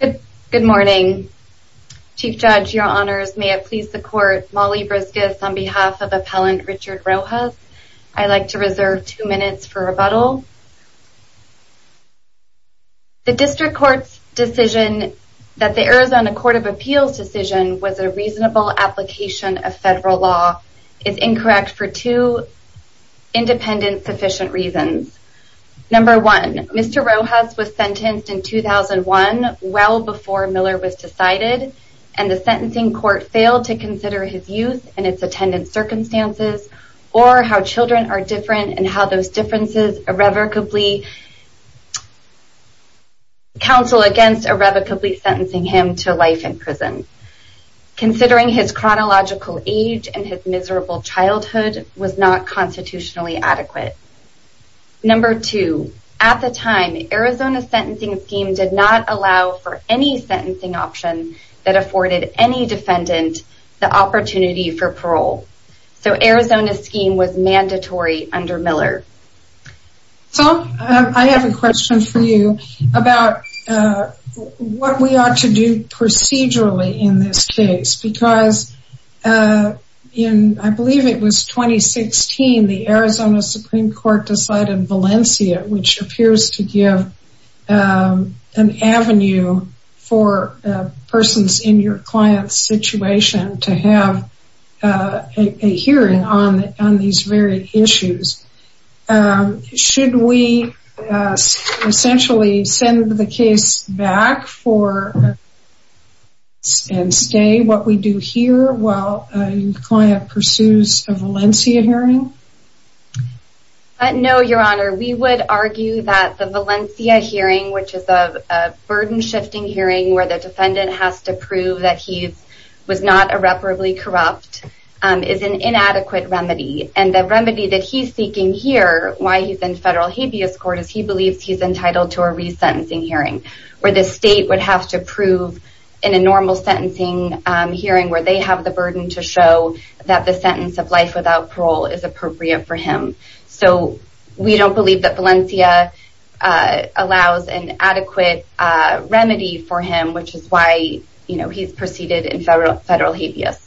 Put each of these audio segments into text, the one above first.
Good morning. Chief Judge, your honors, may it please the court, Molly Briscus on behalf of Appellant Richard Rojas, I'd like to reserve two minutes for rebuttal. The district court's decision that the Arizona Court of Appeals decision was a reasonable application of federal law is incorrect for two independent sufficient reasons. Number one, Mr. Rojas was sentenced in 2001, well before Miller was decided, and the sentencing court failed to consider his youth and its attendance circumstances, or how children are different and how those differences irrevocably counsel against irrevocably sentencing him to life in prison. Considering his chronological age and his miserable childhood was not constitutionally adequate. Number two, at the time, Arizona's scheme did not allow for any sentencing option that afforded any defendant the opportunity for parole. So Arizona's scheme was mandatory under Miller. So I have a question for you about what we ought to do procedurally in this case, because in, I believe it was 2016, the Arizona Supreme Court decided in Valencia, which appears to be an avenue for persons in your client's situation to have a hearing on these very issues. Should we essentially send the case back and stay what we do here while the client pursues a Valencia hearing? No, Your Honor, we would argue that the Valencia hearing, which is a burden-shifting hearing where the defendant has to prove that he was not irreparably corrupt, is an inadequate remedy. And the remedy that he's seeking here, why he's in federal habeas court, is he believes he's entitled to a resentencing hearing, where the state would have to prove in a normal sentencing hearing where they have the burden to show that the sentence of life without parole is appropriate for him. So we don't believe that Valencia allows an adequate remedy for him, which is why he's proceeded in federal habeas.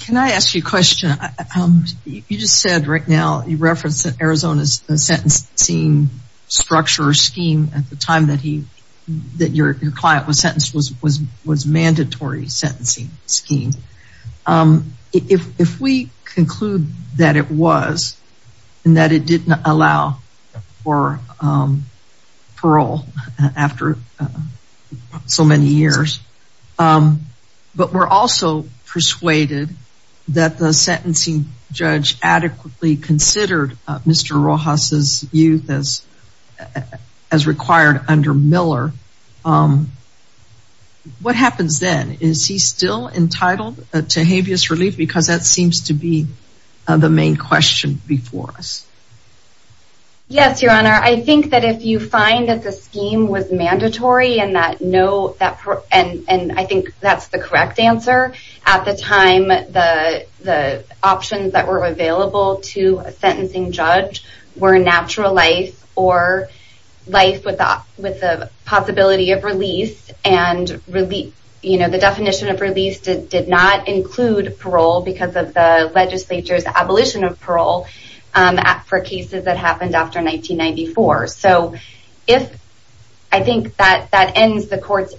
Can I ask you a question? You just said right now, you referenced that Arizona's sentencing structure scheme at the time that your client was sentenced was mandatory sentencing scheme. If we conclude that it was, and that it didn't allow for parole after so many years, but we're also persuaded that the sentencing judge adequately considered Mr. Rojas' youth as required under Miller, what happens then? Is he still entitled to habeas relief? Because that seems to be the main question before us. Yes, Your Honor. I think that if you find that the scheme was mandatory, and I think that's the correct answer, at the time the options that were available to a sentencing judge were natural life or life with the possibility of release, and the definition of release did not include parole because of the legislature's abolition of parole for cases that happened after 1994. So I think that ends the court's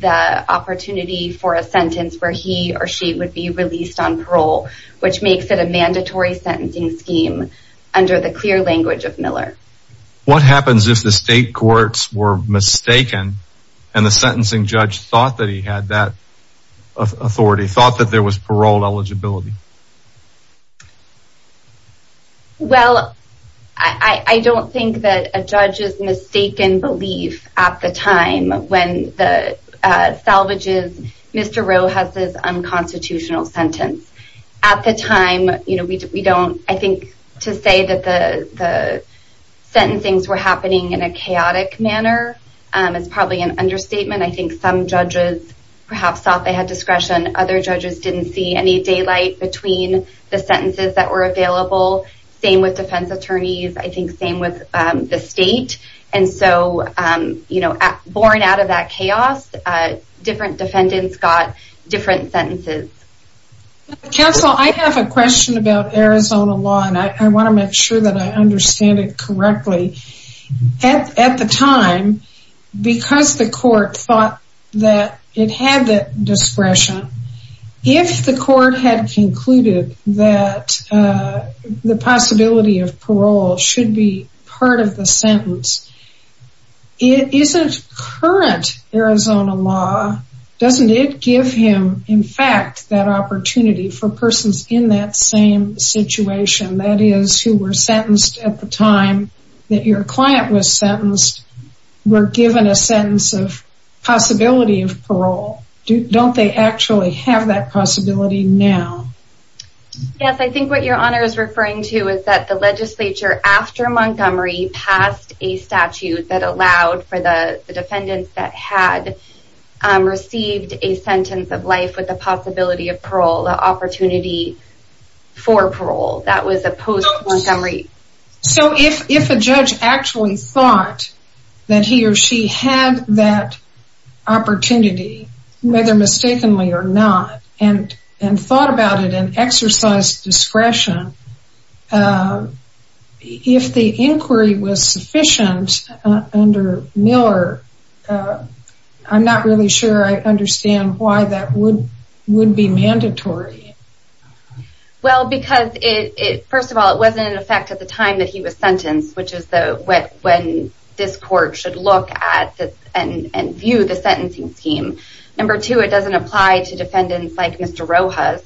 the opportunity for a sentence where he or she would be released on parole, which makes it a mandatory sentencing scheme under the clear language of Miller. What happens if the state courts were mistaken, and the sentencing judge thought that he had that authority, thought that there was parole eligibility? Well, I don't think that a judge's mistaken belief at the time when the salvages Mr. Rojas' unconstitutional sentence. At the time, I think to say that the sentencings were happening in a chaotic manner is probably an understatement. I think some judges perhaps thought they had between the sentences that were available, same with defense attorneys, I think same with the state. And so, you know, born out of that chaos, different defendants got different sentences. Counsel, I have a question about Arizona law, and I want to make sure that I understand it correctly. At the time, because the court thought that it had the discretion, if the court concluded that the possibility of parole should be part of the sentence, isn't current Arizona law, doesn't it give him, in fact, that opportunity for persons in that same situation, that is, who were sentenced at the time that your client was sentenced, were Yes, I think what your honor is referring to is that the legislature after Montgomery passed a statute that allowed for the defendants that had received a sentence of life with the possibility of parole, the opportunity for parole, that was a post Montgomery. So if a judge actually thought that he or she had that opportunity, whether mistakenly or not, and thought about it and exercised discretion, if the inquiry was sufficient under Miller, I'm not really sure I understand why that would be mandatory. Well, because it, first of all, it wasn't in effect at the time that he was sentenced, which is when this court should look at and view the sentencing scheme. Number two, it doesn't apply to defendants like Mr. Rojas.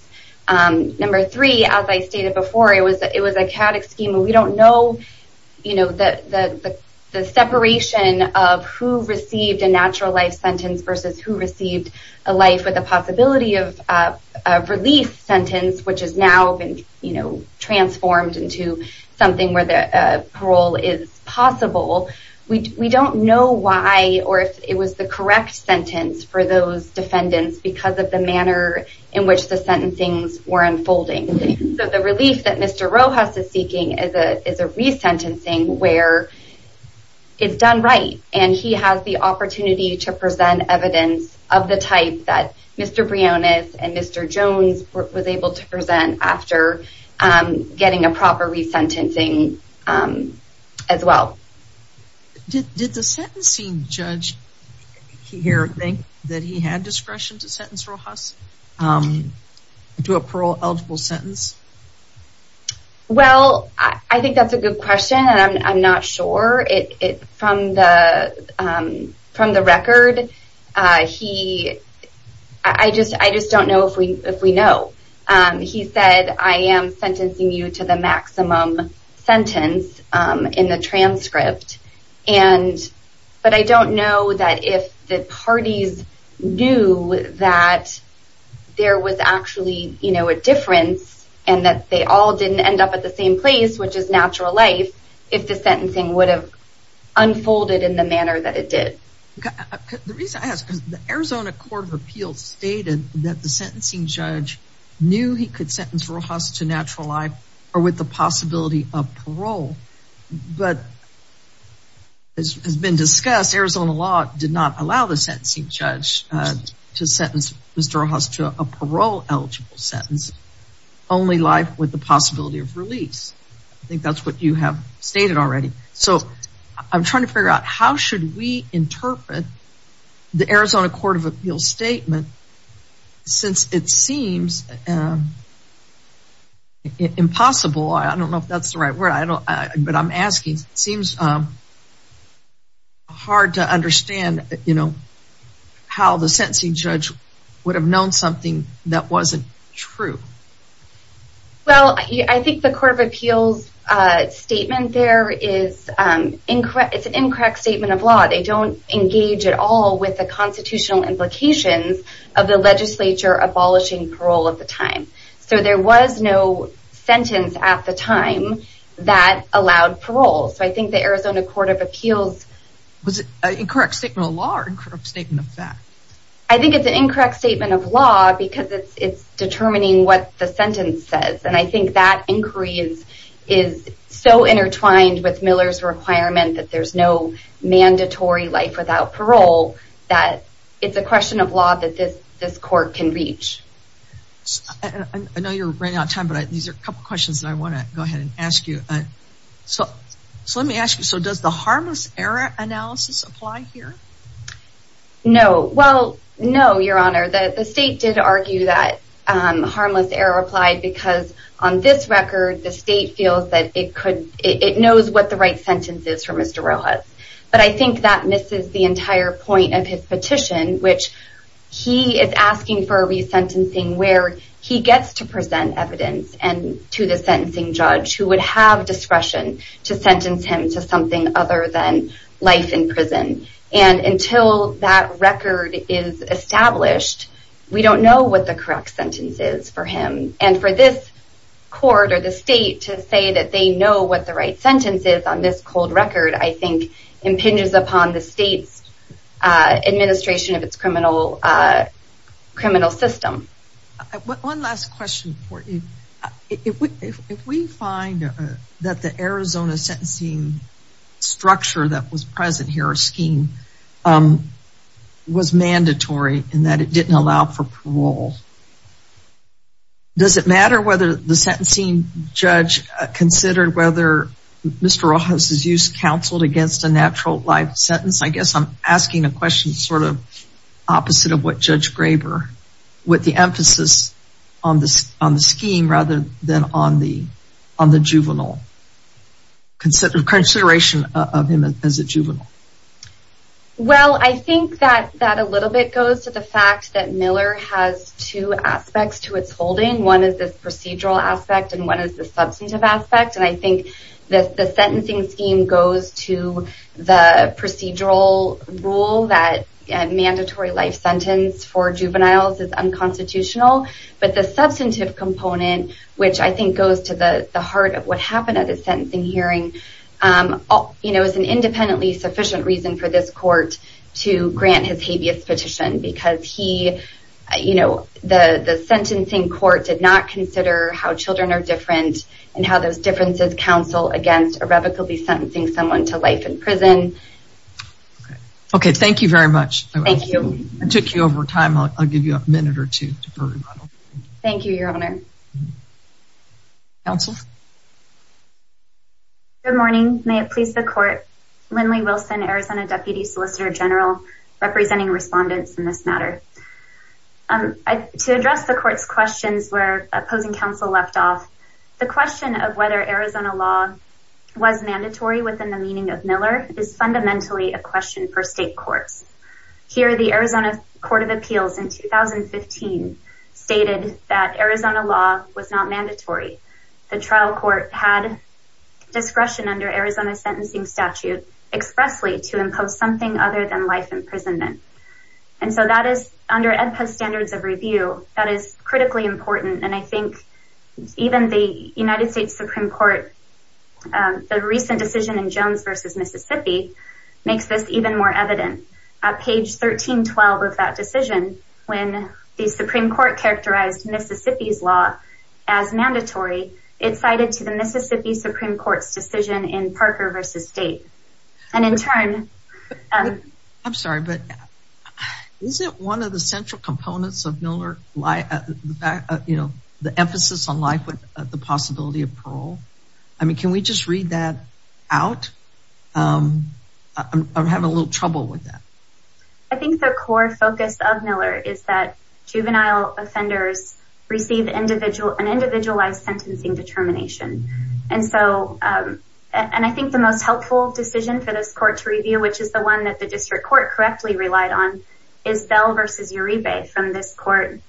Number three, as I stated before, it was a chaotic scheme. We don't know the separation of who received a natural life sentence versus who received a life with the possibility of release sentence, which has now been transformed into something where the parole is possible. We don't know why or if it was the correct sentence for those defendants because of the manner in which the sentencing were unfolding. So the relief that Mr. Rojas is seeking is a resentencing where it's done right and he has the opportunity to present evidence of the type that Mr. Briones and Mr. Jones was able to present after getting a proper resentencing as well. Did the sentencing judge here think that he had discretion to sentence Rojas to a parole eligible sentence? Well, I think that's a good question and I'm not sure. From the record, he, I just don't know if we know. He said, I am sentencing you to the maximum sentence in the transcript, but I don't know that if the parties knew that there was actually a difference and that they all didn't end up at the same place, which is natural life, if the sentencing would have unfolded in the manner that it did. The reason I ask is the Arizona Court of Appeals stated that the sentencing judge knew he could sentence Rojas to natural life or with the possibility of parole, but as has been discussed, Arizona law did not allow the sentencing judge to sentence Mr. Rojas to a parole eligible sentence, only life with the possibility of release. I think that's what you have stated already. I'm trying to figure out how should we interpret the Arizona Court of Appeals statement since it seems impossible. I don't know if that's the right word, but I'm asking. It seems hard to understand how the sentencing judge would have known something that wasn't true. Well, I think the Court of Appeals statement there is an incorrect statement of law. They don't engage at all with the constitutional implications of the legislature abolishing parole at the time. So there was no sentence at the time that allowed parole. So I think the Arizona Court of Appeals... Was it an incorrect statement of law or an incorrect statement of fact? I think it's an incorrect statement of law because it's determining what the sentence says. And I think that inquiry is so intertwined with Miller's requirement that there's no mandatory life without parole that it's a question of law that this court can reach. I know you're running out of time, but these are a couple of questions that I want to go ahead and ask you. So let me ask you, does the harmless error analysis apply here? No. Well, no, Your Honor. The state did argue that harmless error applied because on this record the state feels that it knows what the right sentence is for Mr. Rojas. But I think that misses the entire point of his petition, which he is asking for a resentencing where he gets to present evidence to the sentencing judge who would have discretion to sentence him to something other than life in prison. And until that record is established, we don't know what the correct sentence is for him. And for this court or the state to say that they know what the right sentence is on this cold record, I think impinges upon the state's administration of its criminal system. One last question for you. If we find that the Arizona sentencing structure that was present here, a scheme, was mandatory in that it didn't allow for parole, does it matter whether the sentencing judge considered whether Mr. Rojas' use counseled against a natural life sentence? I guess I'm asking a question sort of opposite of what Judge Graber, what the emphasis on the scheme rather than on the juvenile, consideration of him as a juvenile? Well, I think that that a little bit goes to the fact that Miller has two aspects to its holding. One is the procedural aspect and one is the substantive aspect. And I think the sentencing scheme goes to the procedural rule that a mandatory life sentence for juveniles is unconstitutional. But the substantive component, which I think goes to the heart of what happened at the sentencing hearing, is an independently sufficient reason for this court to grant his habeas petition because he, you know, the sentencing court did not consider how children are different and how those differences counsel against irrevocably sentencing someone to life in prison. Okay, thank you very much. Thank you. I took you over time. I'll give you a minute or two. Thank you, Your Honor. Counsel? Good morning. May it please the court. Lindley Wilson, Arizona Deputy Solicitor General, representing respondents in this matter. To address the court's questions where opposing counsel left off, the question of whether Miller is fundamentally a question for state courts. Here, the Arizona Court of Appeals in 2015 stated that Arizona law was not mandatory. The trial court had discretion under Arizona sentencing statute expressly to impose something other than life imprisonment. And so that is under Edpus standards of review. That is critically important. And I think even the United States v. Mississippi makes this even more evident. At page 1312 of that decision, when the Supreme Court characterized Mississippi's law as mandatory, it cited to the Mississippi Supreme Court's decision in Parker v. State. And in turn... I'm sorry, but isn't one of the central components of Miller, you know, the emphasis on life with the possibility of parole? I mean, can we just read that out? I'm having a little trouble with that. I think the core focus of Miller is that juvenile offenders receive an individualized sentencing determination. And so, and I think the most helpful decision for this court to review, which is the one that the district court correctly relied on, is Bell v. Uribe from this court.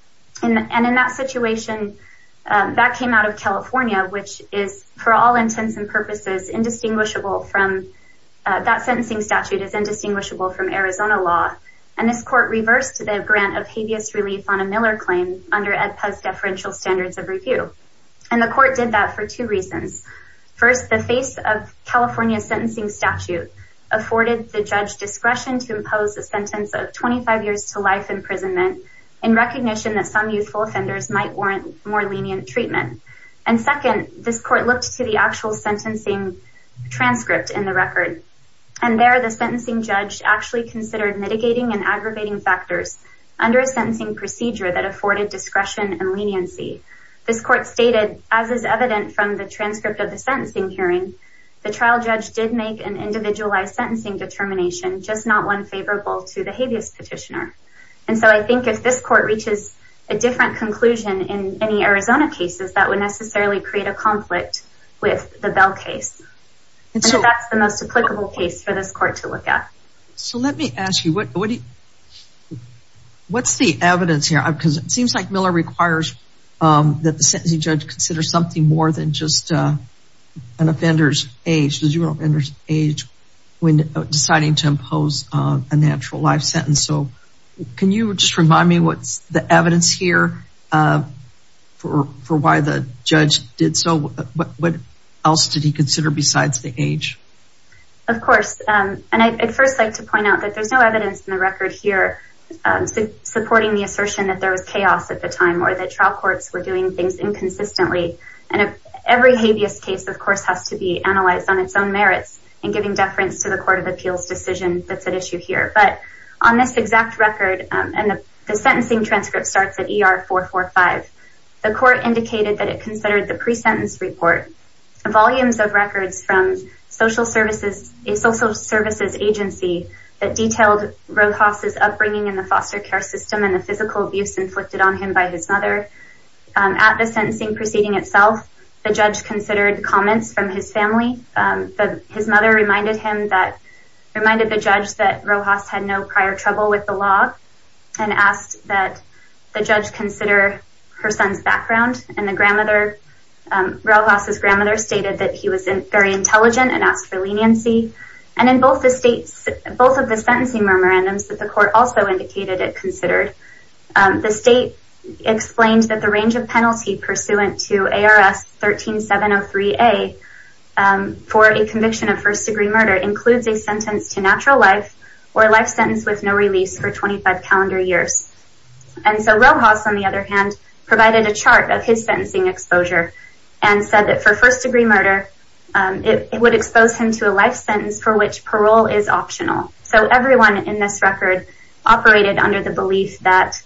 And in that situation, that came out of California, which is, for all intents and purposes, indistinguishable from... that sentencing statute is indistinguishable from Arizona law. And this court reversed the grant of habeas relief on a Miller claim under Edpus deferential standards of review. And the court did that for two reasons. First, the face of California sentencing statute afforded the judge discretion to impose a sentence of 25 years to life imprisonment in recognition that some youthful offenders might warrant more lenient treatment. And second, this court looked to the actual sentencing transcript in the record. And there, the sentencing judge actually considered mitigating and aggravating factors under a sentencing procedure that afforded discretion and leniency. This court stated, as is evident from the transcript of the sentencing hearing, the trial judge did make an individualized sentencing determination, just not one favorable to the habeas petitioner. And so I think if this court reaches a different conclusion in any Arizona cases, that would necessarily create a conflict with the Bell case. And so that's the most applicable case for this court to look at. So let me ask you, what do you... what's the evidence here? Because it seems like Miller requires that the sentencing judge consider something more than just an offender's age, because you don't understand age when deciding to impose a natural life sentence. So can you just remind me what's the evidence here for why the judge did so? What else did he consider besides the age? Of course. And I'd first like to point out that there's no evidence in the record here supporting the assertion that there was chaos at the time or that trial courts were doing things inconsistently. And every habeas case, of course, has to be analyzed on its own merits and giving deference to the Court of Appeals decision that's at issue here. But on this exact record, and the sentencing transcript starts at ER 445, the court indicated that it considered the pre-sentence report, volumes of records from social services agency that detailed Rojas' upbringing in the foster care system and the physical abuse inflicted on him by his mother. At the sentencing proceeding itself, the judge considered comments from his family. His mother reminded the judge that Rojas had no prior trouble with the law and asked that the judge consider her son's background. And Rojas' grandmother stated that he was very intelligent and asked for leniency. And in both of the sentencing memorandums that the court also indicated it considered, the state explained that the range of penalty pursuant to ARS 13703A for a conviction of first-degree murder includes a sentence to natural life or a life sentence with no release for 25 calendar years. And so Rojas, on the other hand, provided a chart of his sentencing exposure and said that for first-degree murder, it would expose him to a life sentence for which parole is optional. So everyone in this record operated under the belief that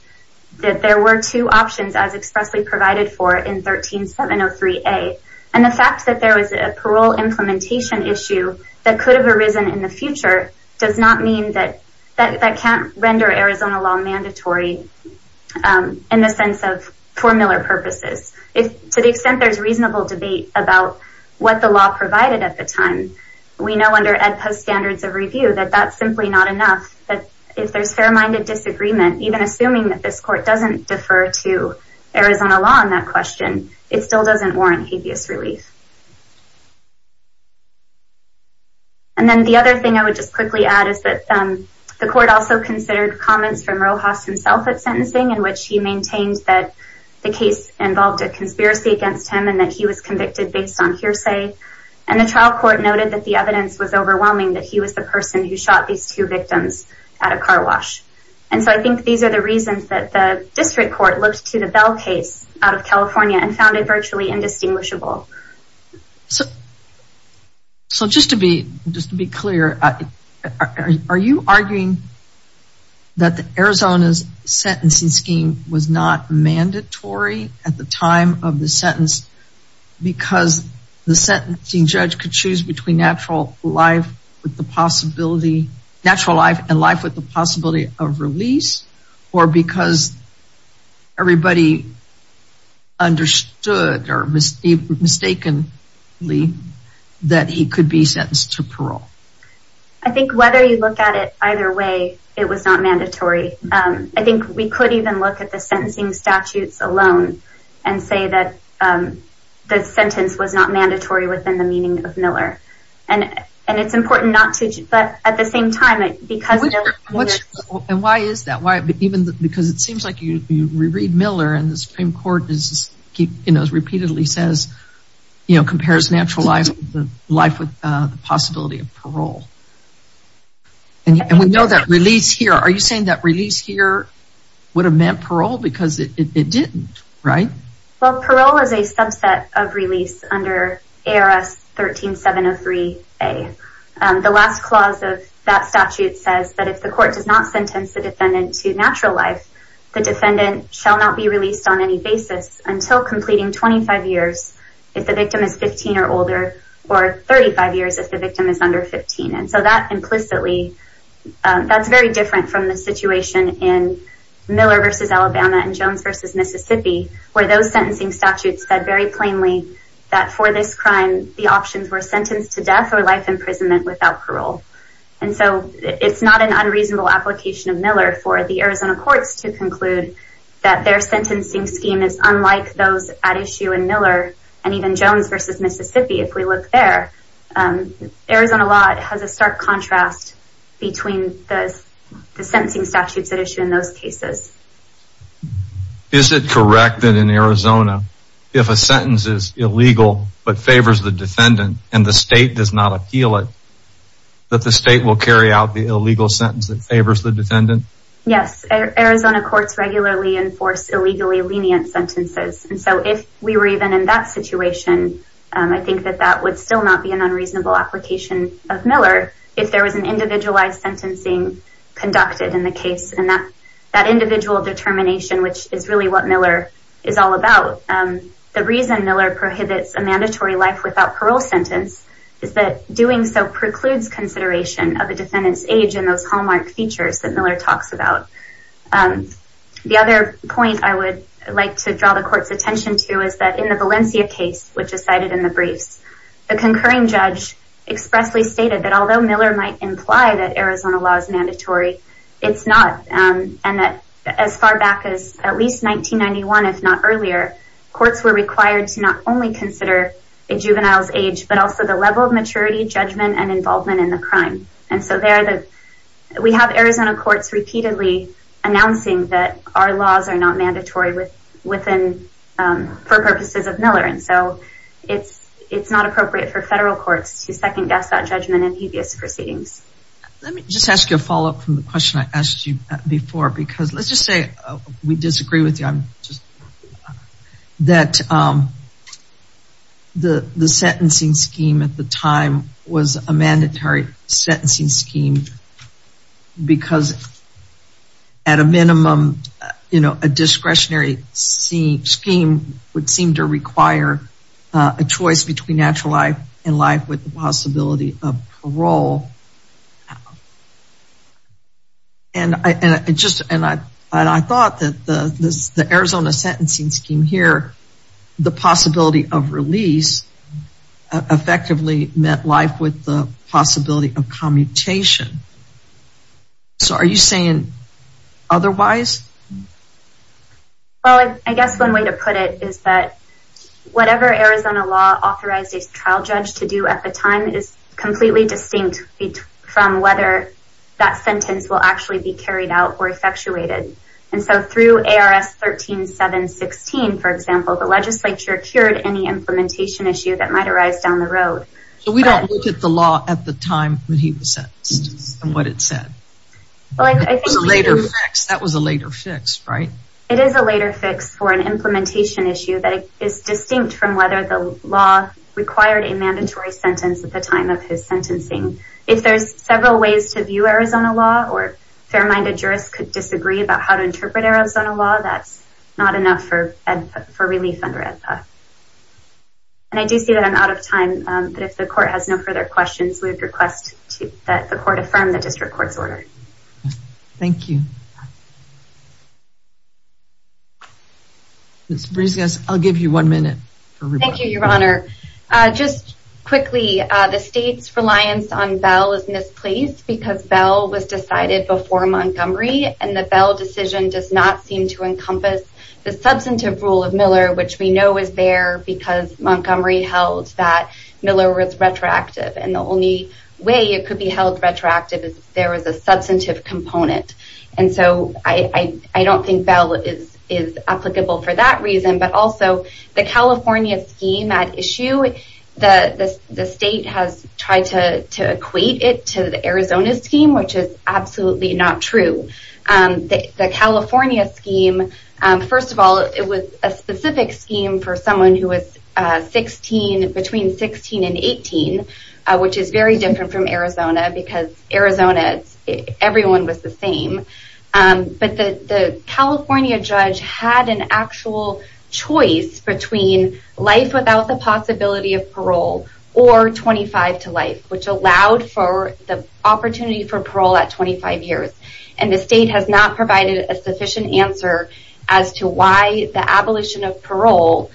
there were two options as expressly provided for in 13703A. And the fact that there was a parole implementation issue that could have arisen in the future does not mean that that can't render Arizona law mandatory in the sense of formular purposes. To the extent there's reasonable debate about what the law provided at the time, we know under Ed Post's standards of review that that's simply not enough. But if there's fair-minded disagreement, even assuming that this court doesn't defer to Arizona law on that question, it still doesn't warrant habeas relief. And then the other thing I would just quickly add is that the court also considered comments from Rojas himself at sentencing in which he maintained that the case involved a conspiracy against him and that he was convicted based on hearsay. And the trial court noted that the evidence was overwhelming that he was the person who shot these two victims at a car wash. And so I think these are the reasons that the district court looked to the Bell case out of California and found it virtually indistinguishable. So just to be clear, are you arguing that Arizona's sentencing scheme was not mandatory at the time of the sentence because the sentencing judge could choose between natural life and life with the possibility of release or because everybody understood or mistakenly that he could be sentenced to parole? I think whether you look at it either way, it was not mandatory. I think we could even look at the sentencing statutes alone and say that the sentence was not mandatory within the meaning of Miller. And it's important not to, but at the same time, it because... And why is that? Why? Because it seems like you reread Miller and the Supreme Court repeatedly says, you know, compares natural life with the possibility of parole. And we know that release here, are you saying that release here would have meant parole because it didn't, right? Well, parole is a subset of release under ARS 13703A. The last clause of that statute says that if the court does not sentence the defendant to natural life, the defendant shall not be released on any basis until completing 25 years if the victim is 15 or older or 35 years if the victim is under 15. And so that implicitly, that's very different from the situation in Miller v. Alabama and Jones v. Mississippi, where those sentencing statutes said very plainly that for this crime, the options were sentenced to death or life imprisonment without parole. And so it's not an unreasonable application of Miller for the Arizona courts to conclude that their sentencing scheme is unlike those at issue in Miller and even Jones v. Mississippi. If we look there, Arizona law has a stark contrast between the sentencing statutes at issue in those cases. Is it correct that in Arizona, if a sentence is illegal but favors the defendant and the state does not appeal it, that the state will carry out the illegal sentence that favors the defendant? Yes. Arizona courts regularly enforce illegally lenient sentences. And so if we were even in that situation, I think that that would still not be an unreasonable application of Miller if there was an individualized sentencing conducted in the case and that individual determination, which is really what Miller is all about. The reason Miller prohibits a mandatory life without parole sentence is that doing so precludes consideration of the defendant's age and those hallmark features that Miller talks about. The other point I would like to draw the court's attention to is that in the Valencia case, which is cited in the briefs, the concurring judge expressly stated that although Miller might imply that Arizona law is mandatory, it's not. And that as far back as at least 1991, if not earlier, courts were required to not only consider a juvenile's age, but also the level of maturity, judgment, and involvement in the crime. And so we have Arizona courts repeatedly announcing that our laws are not mandatory for purposes of Miller. And so it's not appropriate for federal courts to second guess that judgment in previous proceedings. Let me just ask you a follow-up from the question I asked you before, because let's just say we disagree with you that the sentencing scheme at the time was a mandatory sentencing scheme because at a minimum, you know, a discretionary scheme would seem to require a choice between natural life and life with the possibility of parole. And I thought that the Arizona sentencing scheme here, the possibility of parole effectively met life with the possibility of commutation. So are you saying otherwise? Well, I guess one way to put it is that whatever Arizona law authorizes a trial judge to do at the time is completely distinct from whether that sentence will actually be carried out or effectuated. And so through ARS 13-7-16, for example, the legislature cured any implementation issue that might arise down the road. So we don't look at the law at the time when he was sentenced and what it said. Well, I think... It was a later fix. That was a later fix, right? It is a later fix for an implementation issue that is distinct from whether the law required a mandatory sentence at the time of his sentencing. If there's several ways to view Arizona law or fair-minded jurists could disagree about how to interpret Arizona law, that's not enough for relief under AEDPA. And I do see that I'm out of time, but if the court has no further questions, we would request that the court affirm the district court's order. Thank you. Ms. Brescias, I'll give you one minute. Thank you, Your Honor. Just quickly, the state's reliance on Bell is misplaced because Bell was decided before Montgomery, and the Bell decision does not seem to encompass the substantive rule of Miller, which we know is there because Montgomery held that Miller was retroactive. And the only way it could be held retroactive is if there was a substantive component. And so I don't think Bell is applicable for that reason, but also the California scheme at issue, the state has tried to equate it to the Arizona scheme, which is absolutely not true. The California scheme, first of all, it was a specific scheme for someone who was between 16 and 18, which is very different from Arizona because Arizona, everyone was the same, but the California judge had an actual choice between life without the possibility of parole or 25 to life, which allowed for the opportunity for parole at 25 years. And the state has not provided a sufficient answer as to why the abolition of parole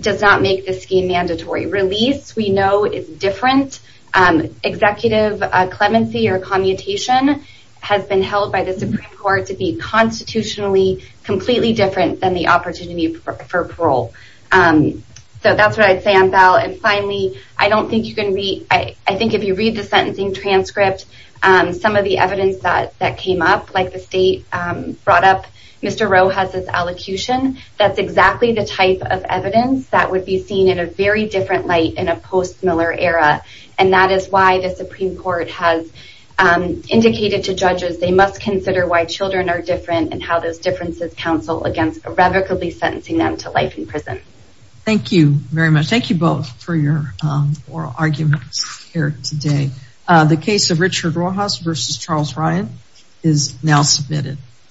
does not make the scheme mandatory. Release, we know is different. Executive clemency or commutation has been held by the Supreme Court to be constitutionally completely different than the opportunity for parole. So that's what I'd say on Bell. And finally, I don't think you can read, I think if you read the sentencing transcript, some of the evidence that came up, like the state brought up, Mr. Rowe has this allocution, that's exactly the type of evidence that would be seen in a very different light in a post-Miller era. And that is why the Supreme Court has indicated to judges, they must consider why children are different and how those differences counsel against irrevocably sentencing them to life in prison. Thank you very much. Thank you both for your oral arguments here today. The case of Richard Rojas versus Charles Ryan is now submitted.